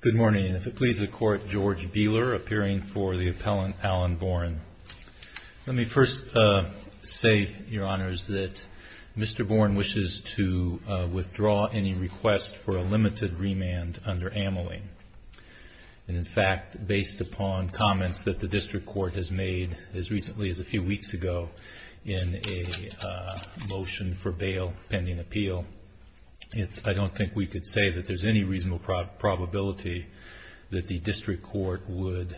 Good morning, and if it pleases the Court, George Beeler, appearing for the appellant Alan Boren. Let me first say, Your Honors, that Mr. Boren wishes to withdraw any request for a limited remand under Ameling. In fact, based upon comments that the District Court has made as recently as a few weeks ago in a motion for bail pending appeal, I don't think we could say that there's any reasonable probability that the District Court would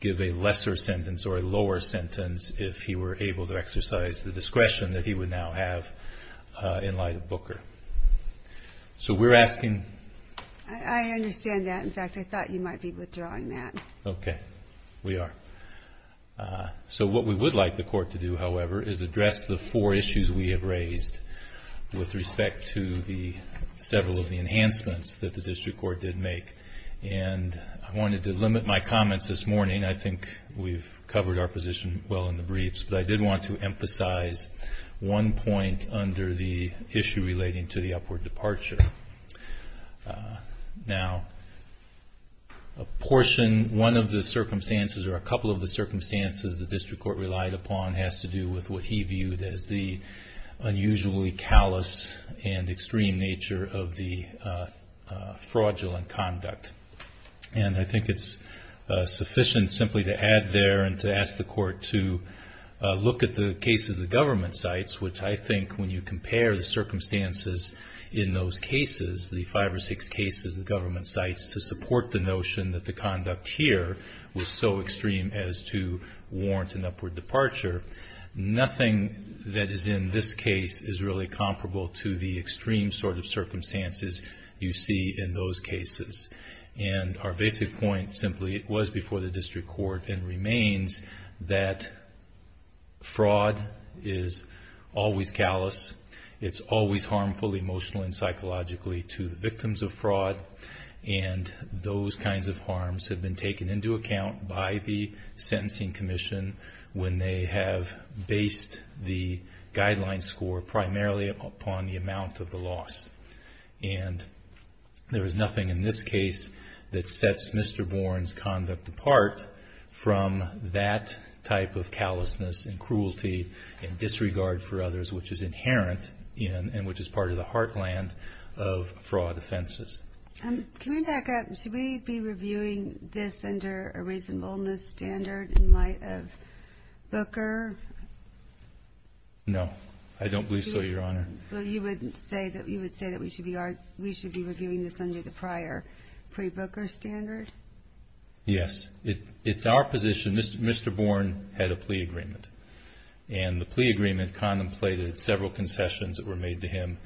give a lesser sentence or a lower sentence if he were able to exercise the discretion that he would now have in light of Booker. So we're asking... I understand that. In fact, I thought you might be withdrawing that. Okay. We are. So what we would like the Court to do, however, is address the four issues we have raised with respect to several of the enhancements that the District Court did make. And I wanted to limit my comments this morning. I think we've covered our position well in the briefs. But I did want to emphasize one point under the issue relating to the upward departure. Now, a portion, one of the circumstances or a couple of the circumstances the District Court relied upon has to do with what he viewed as the unusually callous and extreme nature of the fraudulent conduct. And I think it's sufficient simply to add there and to ask the Court to look at the cases the government cites, which I think when you compare the circumstances in those cases, the five or six cases the government cites, to support the notion that the conduct here was so extreme as to warrant an upward departure, nothing that is in this case is really comparable to the extreme sort of circumstances you see in those cases. And our basic point simply was before the District Court and remains that fraud is always callous. It's always harmful emotionally and psychologically to the victims of fraud. And those kinds of harms have been taken into account by the Sentencing Commission when they have based the guideline score primarily upon the amount of the loss. And there is nothing in this case that sets Mr. Bourne's conduct apart from that type of callousness and cruelty and disregard for others, which is inherent and which is part of the heartland of fraud offenses. Can we back up? Should we be reviewing this under a reasonableness standard in light of Booker? No, I don't believe so, Your Honor. Well, you would say that we should be reviewing this under the prior pre-Booker standard? Yes. It's our position, Mr. Bourne had a plea agreement. And the plea agreement contemplated several concessions that were made to him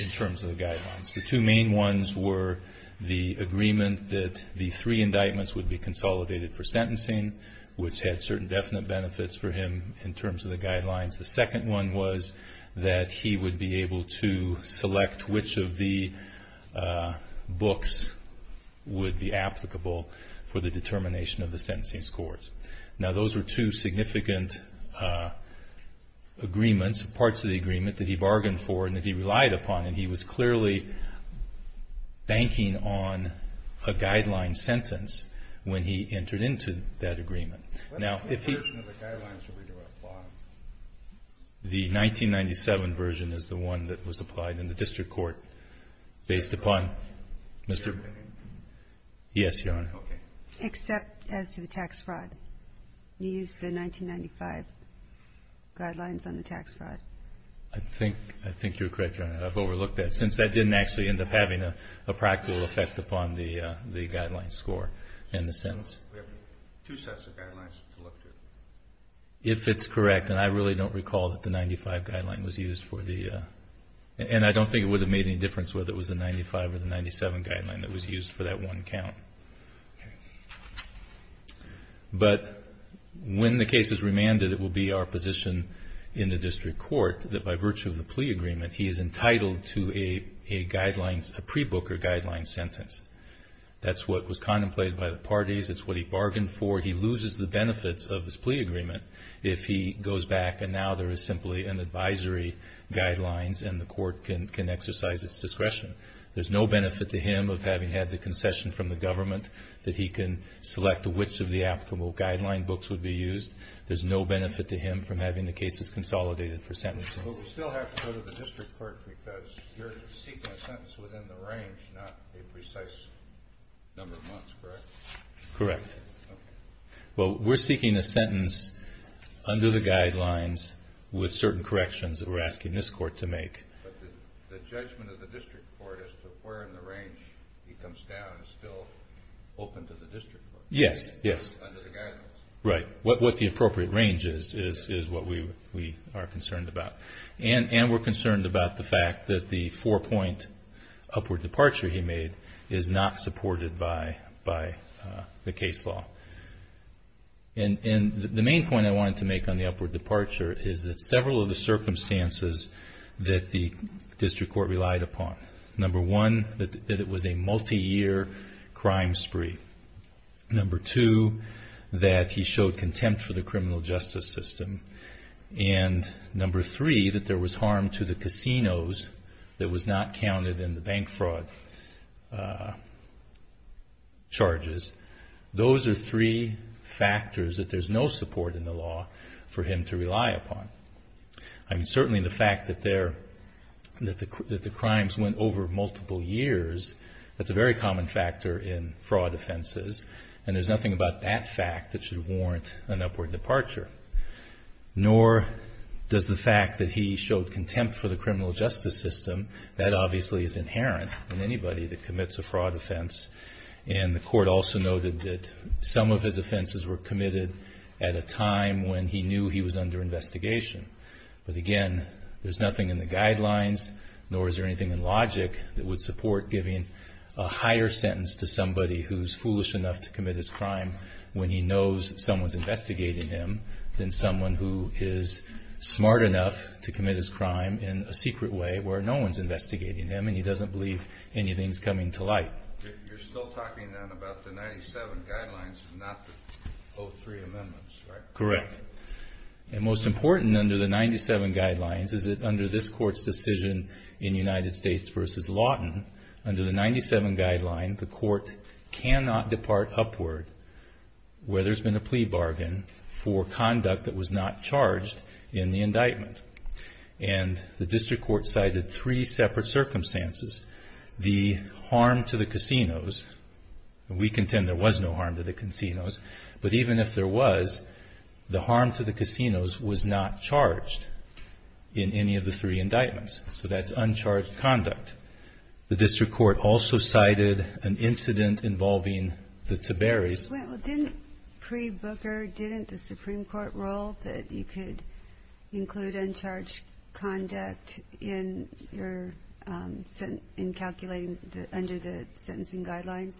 in terms of the guidelines. The two main ones were the agreement that the three indictments would be consolidated for sentencing, which had certain definite benefits for him in terms of the guidelines. The second one was that he would be able to select which of the books would be applicable for the determination of the sentencing scores. Now, those were two significant agreements, parts of the agreement, that he bargained for and that he relied upon. And he was clearly banking on a guideline sentence when he entered into that agreement. What version of the guidelines did we apply? The 1997 version is the one that was applied in the district court based upon Mr. ---- Yes, Your Honor. Okay. Except as to the tax fraud. You used the 1995 guidelines on the tax fraud. I think you're correct, Your Honor. I've overlooked that since that didn't actually end up having a practical effect upon the guideline score and the sentence. We have two sets of guidelines to look to. If it's correct, and I really don't recall that the 1995 guideline was used for the ---- and I don't think it would have made any difference whether it was the 1995 or the 1997 guideline that was used for that one count. But when the case is remanded, it will be our position in the district court that by virtue of the plea agreement, he is entitled to a pre-booker guideline sentence. That's what was contemplated by the parties. It's what he bargained for. He loses the benefits of his plea agreement if he goes back and now there is simply an advisory guidelines and the court can exercise its discretion. There's no benefit to him of having had the concession from the government that he can select which of the applicable guideline books would be used. But we still have to go to the district court because you're seeking a sentence within the range, not a precise number of months, correct? Correct. Well, we're seeking a sentence under the guidelines with certain corrections that we're asking this court to make. But the judgment of the district court as to where in the range he comes down is still open to the district court. Yes, yes. Under the guidelines. Right. What the appropriate range is, is what we are concerned about. And we're concerned about the fact that the four-point upward departure he made is not supported by the case law. And the main point I wanted to make on the upward departure is that several of the circumstances that the district court relied upon, number one, that it was a multi-year crime spree. Number two, that he showed contempt for the criminal justice system. And number three, that there was harm to the casinos that was not counted in the bank fraud charges. Those are three factors that there's no support in the law for him to rely upon. I mean, certainly the fact that the crimes went over multiple years, that's a very common factor in fraud offenses. And there's nothing about that fact that should warrant an upward departure. Nor does the fact that he showed contempt for the criminal justice system. That obviously is inherent in anybody that commits a fraud offense. And the court also noted that some of his offenses were committed at a time when he knew he was under investigation. But again, there's nothing in the guidelines, nor is there anything in logic, that would support giving a higher sentence to somebody who's foolish enough to commit his crime when he knows someone's investigating him than someone who is smart enough to commit his crime in a secret way where no one's investigating him and he doesn't believe anything's coming to light. You're still talking then about the 97 guidelines and not the 03 amendments, right? Correct. And most important under the 97 guidelines is that under this court's decision in United States v. Lawton, under the 97 guideline, the court cannot depart upward where there's been a plea bargain for conduct that was not charged in the indictment. And the district court cited three separate circumstances. The harm to the casinos, and we contend there was no harm to the casinos, but even if there was, the harm to the casinos was not charged in any of the three indictments. So that's uncharged conduct. The district court also cited an incident involving the Tiberis. Well, didn't pre-Booker, didn't the Supreme Court rule that you could include uncharged conduct in calculating under the sentencing guidelines?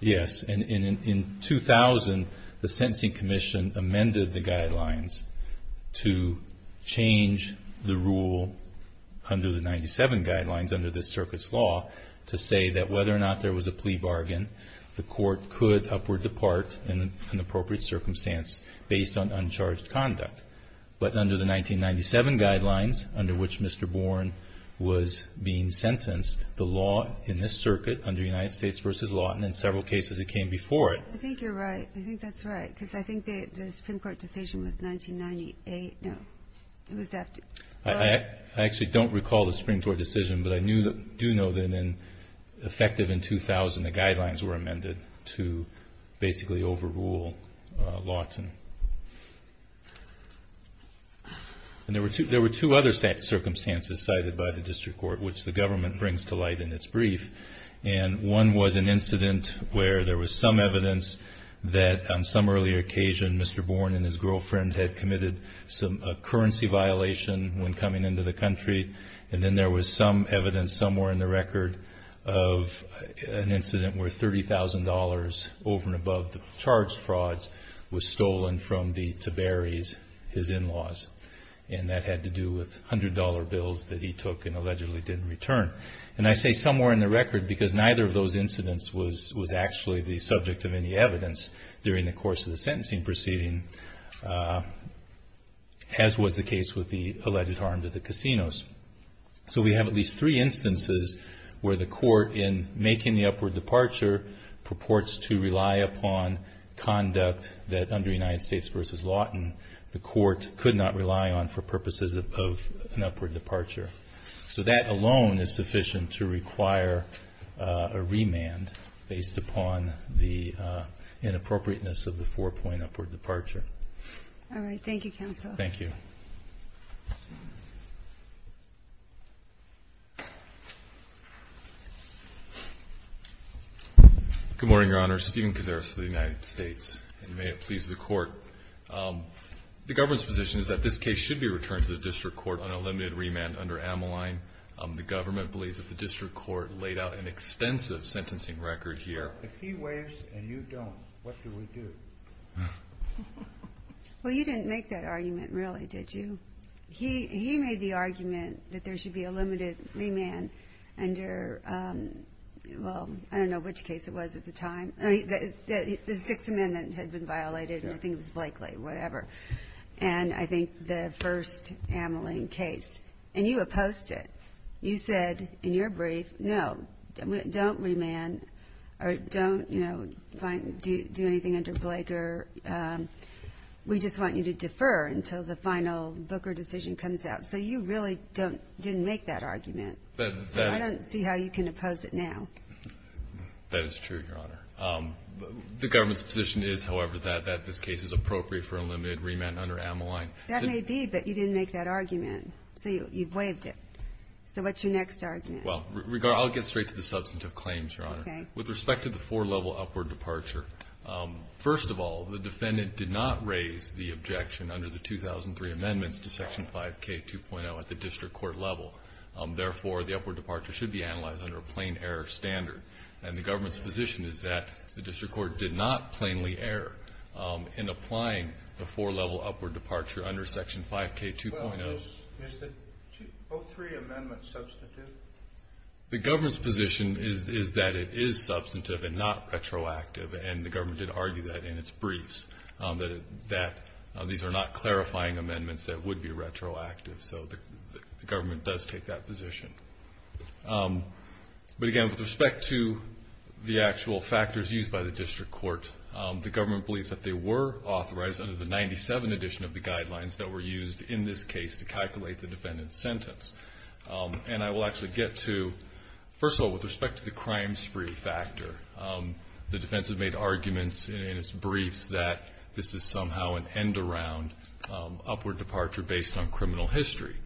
Yes, and in 2000, the Sentencing Commission amended the guidelines to change the rule under the 97 guidelines under this circuit's law to say that whether or not there was a plea bargain, the court could upward depart in an appropriate circumstance based on uncharged conduct. But under the 1997 guidelines, under which Mr. Bourne was being sentenced, the law in this circuit under United States v. Lawton in several cases, it came before it. I think you're right. I think that's right, because I think the Supreme Court decision was 1998. No. It was after. I actually don't recall the Supreme Court decision, but I do know that in effective in 2000, the guidelines were amended to basically overrule Lawton. And there were two other circumstances cited by the district court, which the government brings to light in its brief, and one was an incident where there was some evidence that on some earlier occasion, Mr. Bourne and his girlfriend had committed a currency violation when coming into the country, and then there was some evidence somewhere in the record of an incident where $30,000 over and above the charged frauds was stolen from the Tiberis, his in-laws. And that had to do with $100 bills that he took and allegedly didn't return. And I say somewhere in the record because neither of those incidents was actually the subject of any evidence during the course of the sentencing proceeding, as was the case with the alleged harm to the casinos. So we have at least three instances where the court, in making the upward departure, purports to rely upon conduct that under United States v. Lawton, the court could not rely on for purposes of an upward departure. So that alone is sufficient to require a remand based upon the inappropriateness of the four-point upward departure. All right. Thank you, counsel. Thank you. Good morning, Your Honor. Stephen Cazares of the United States, and may it please the Court. The government's position is that this case should be returned to the district court on a limited remand under Ameline. The government believes that the district court laid out an extensive sentencing record here. If he waives and you don't, what do we do? Well, you didn't make that argument, really, did you? He made the argument that there should be a limited remand under, well, I don't know which case it was at the time. The Sixth Amendment had been violated, and I think it was Blakely, whatever. And I think the first Ameline case. And you opposed it. You said in your brief, no, don't remand or don't, you know, do anything under Blaker. We just want you to defer until the final Booker decision comes out. So you really didn't make that argument. I don't see how you can oppose it now. That is true, Your Honor. The government's position is, however, that this case is appropriate for a limited remand under Ameline. That may be, but you didn't make that argument. So you waived it. So what's your next argument? Well, I'll get straight to the substantive claims, Your Honor. Okay. With respect to the four-level upward departure, first of all, the defendant did not raise the objection under the 2003 amendments to Section 5K2.0 at the district court level. Therefore, the upward departure should be analyzed under a plain error standard. And the government's position is that the district court did not plainly err in applying the four-level upward departure under Section 5K2.0. Well, is the 2003 amendment substantive? The government's position is that it is substantive and not retroactive. And the government did argue that in its briefs, that these are not clarifying amendments that would be retroactive. So the government does take that position. But, again, with respect to the actual factors used by the district court, the government believes that they were authorized under the 97 edition of the guidelines that were used in this case to calculate the defendant's sentence. And I will actually get to, first of all, with respect to the crime spree factor, the defense has made arguments in its briefs that this is somehow an end-around upward departure based on criminal history.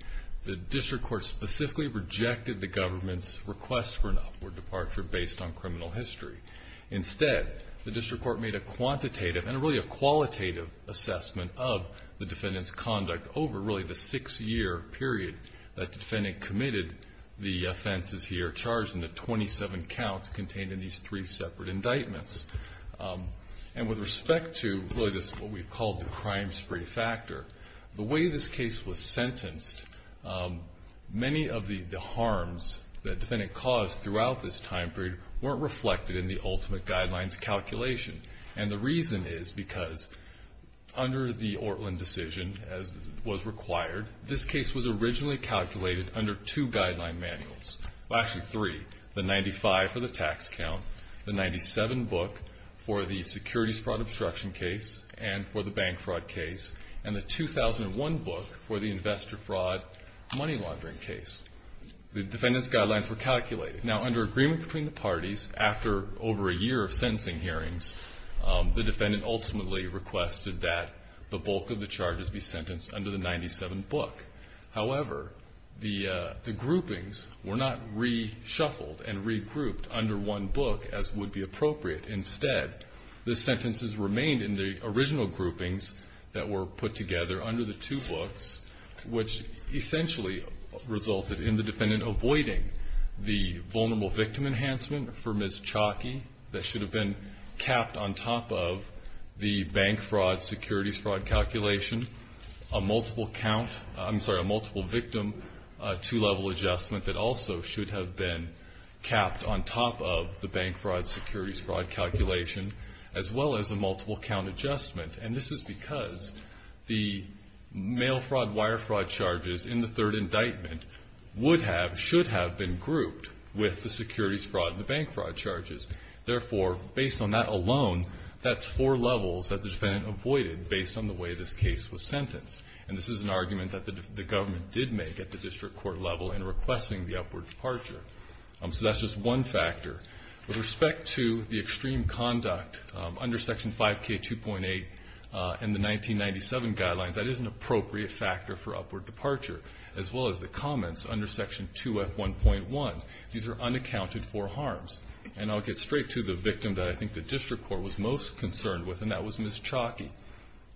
The district court specifically rejected the government's request for an upward departure based on criminal history. Instead, the district court made a quantitative and really a qualitative assessment of the defendant's conduct over really the six-year period that the defendant committed the offenses here, charged in the 27 counts contained in these three separate indictments. And with respect to really what we've called the crime spree factor, the way this case was sentenced, many of the harms that the defendant caused throughout this time period weren't reflected in the ultimate guidelines calculation. And the reason is because under the Ortlin decision, as was required, this case was originally calculated under two guideline manuals. Well, actually three. The 95 for the tax count, the 97 book for the securities fraud obstruction case and for the bank fraud case, and the 2001 book for the investor fraud money laundering case. The defendant's guidelines were calculated. Now, under agreement between the parties, after over a year of sentencing hearings, the defendant ultimately requested that the bulk of the charges be sentenced under the 97 book. However, the groupings were not reshuffled and regrouped under one book as would be appropriate. Instead, the sentences remained in the original groupings that were put together under the two books, which essentially resulted in the defendant avoiding the vulnerable victim enhancement for Ms. Chalky that should have been capped on top of the bank fraud securities fraud calculation, a multiple victim two-level adjustment that also should have been capped on top of the bank fraud securities fraud calculation, as well as a multiple count adjustment. And this is because the mail fraud, wire fraud charges in the third indictment would have, should have been grouped with the securities fraud and the bank fraud charges. Therefore, based on that alone, that's four levels that the defendant avoided based on the way this case was sentenced. And this is an argument that the government did make at the district court level in requesting the upward departure. So that's just one factor. With respect to the extreme conduct under Section 5K2.8 and the 1997 guidelines, that is an appropriate factor for upward departure, as well as the comments under Section 2F1.1. These are unaccounted for harms. And I'll get straight to the victim that I think the district court was most concerned with, and that was Ms. Chalky.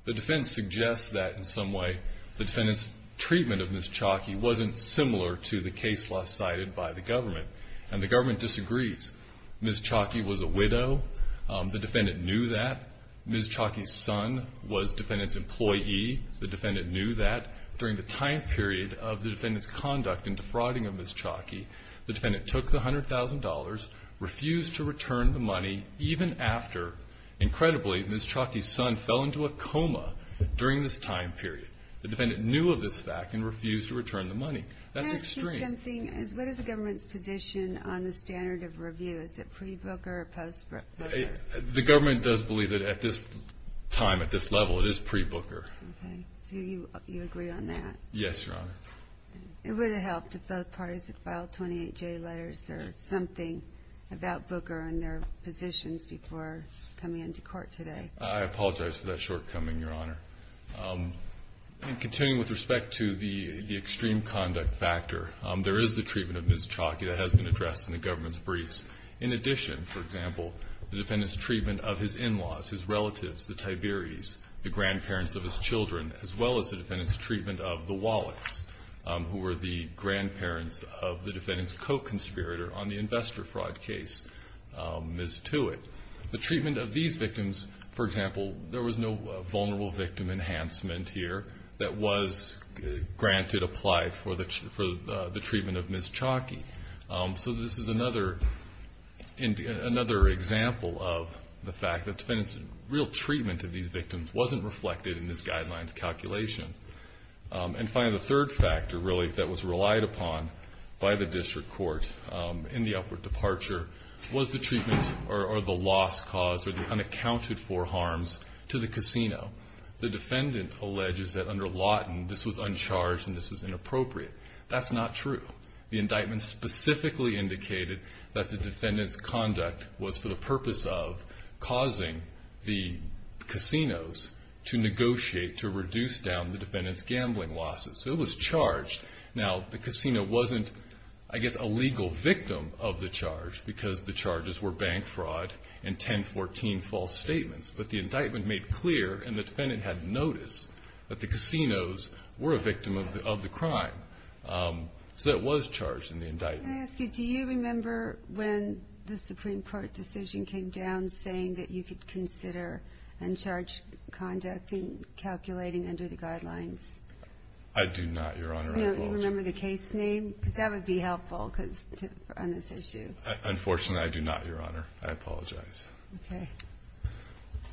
The defense suggests that in some way the defendant's treatment of Ms. Chalky wasn't similar to the case law cited by the government. And the government disagrees. Ms. Chalky was a widow. The defendant knew that. Ms. Chalky's son was defendant's employee. The defendant knew that. During the time period of the defendant's conduct in defrauding of Ms. Chalky, the defendant took the $100,000, refused to return the money, even after, incredibly, Ms. Chalky's son fell into a coma during this time period. The defendant knew of this fact and refused to return the money. That's extreme. What is the government's position on the standard of review? Is it pre-Booker or post-Booker? The government does believe that at this time, at this level, it is pre-Booker. Okay. So you agree on that? Yes, Your Honor. It would have helped if both parties had filed 28J letters or something about Booker and their positions before coming into court today. I apologize for that shortcoming, Your Honor. Continuing with respect to the extreme conduct factor, there is the treatment of Ms. Chalky that has been addressed in the government's briefs. In addition, for example, the defendant's treatment of his in-laws, his relatives, the Tiberis, the grandparents of his children, as well as the defendant's treatment of the Wallachs, who were the grandparents of the defendant's co-conspirator on the investor fraud case, Ms. Tewitt. The treatment of these victims, for example, there was no vulnerable victim enhancement here that was granted, applied for the treatment of Ms. Chalky. So this is another example of the fact that the defendant's real treatment of these victims wasn't reflected in this guideline's calculation. And finally, the third factor, really, that was relied upon by the district court in the upward departure was the treatment or the loss caused or the unaccounted for harms to the casino. The defendant alleges that under Lawton this was uncharged and this was inappropriate. That's not true. The indictment specifically indicated that the defendant's conduct was for the purpose of causing the casinos to negotiate to reduce down the defendant's gambling losses. So it was charged. Now, the casino wasn't, I guess, a legal victim of the charge because the charges were bank fraud and 1014 false statements. But the indictment made clear, and the defendant had noticed, that the casinos were a victim of the crime. So it was charged in the indictment. Can I ask you, do you remember when the Supreme Court decision came down saying that you could consider uncharged conduct in calculating under the guidelines? I do not, Your Honor. Do you remember the case name? Because that would be helpful on this issue. Unfortunately, I do not, Your Honor. I apologize. Okay.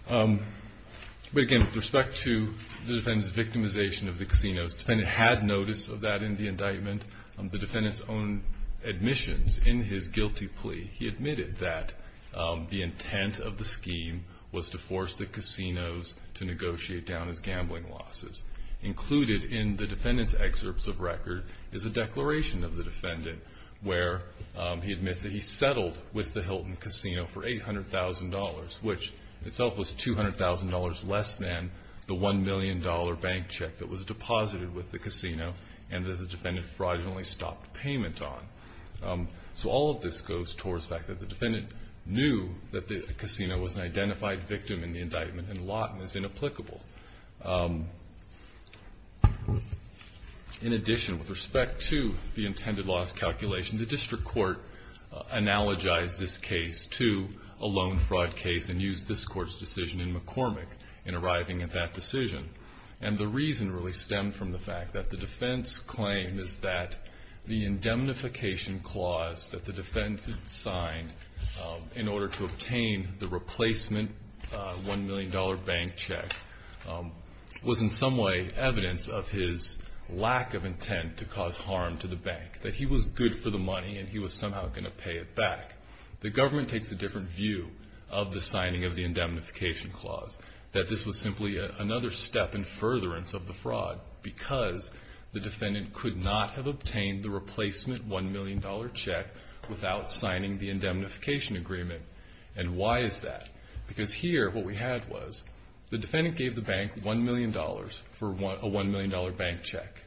But again, with respect to the defendant's victimization of the casinos, the defendant had notice of that in the indictment. The defendant's own admissions in his guilty plea, he admitted that the intent of the scheme was to force the casinos to negotiate down his gambling losses. Included in the defendant's excerpts of record is a declaration of the defendant where he admits that he settled with the Hilton Casino for $800,000, which itself was $200,000 less than the $1 million bank check that was deposited with the casino and that the defendant fraudulently stopped payment on. So all of this goes towards the fact that the defendant knew that the casino was an identified victim in the indictment, and Lawton is inapplicable. In addition, with respect to the intended loss calculation, the district court analogized this case to a loan fraud case and used this court's decision in McCormick in arriving at that decision. And the reason really stemmed from the fact that the defense claim is that the indemnification clause that the defense had signed in order to obtain the was in some way evidence of his lack of intent to cause harm to the bank, that he was good for the money and he was somehow going to pay it back. The government takes a different view of the signing of the indemnification clause, that this was simply another step in furtherance of the fraud, because the defendant could not have obtained the replacement $1 million check without signing the indemnification agreement. And why is that? Because here what we had was the defendant gave the bank $1 million for a $1 million bank check.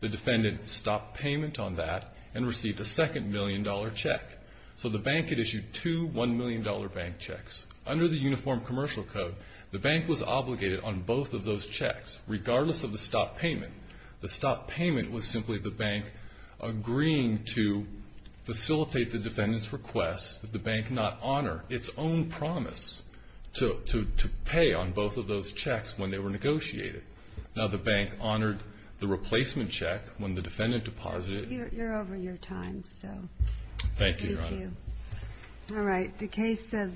The defendant stopped payment on that and received a second $1 million check. So the bank had issued two $1 million bank checks. Under the Uniform Commercial Code, the bank was obligated on both of those checks, regardless of the stopped payment. The stopped payment was simply the bank agreeing to facilitate the defendant's request that the bank not honor its own promise to pay on both of those checks when they were negotiated. Now the bank honored the replacement check when the defendant deposited it. You're over your time, so. Thank you, Your Honor. Thank you. All right. The case of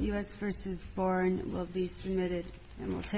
U.S. v. Boren will be submitted and will take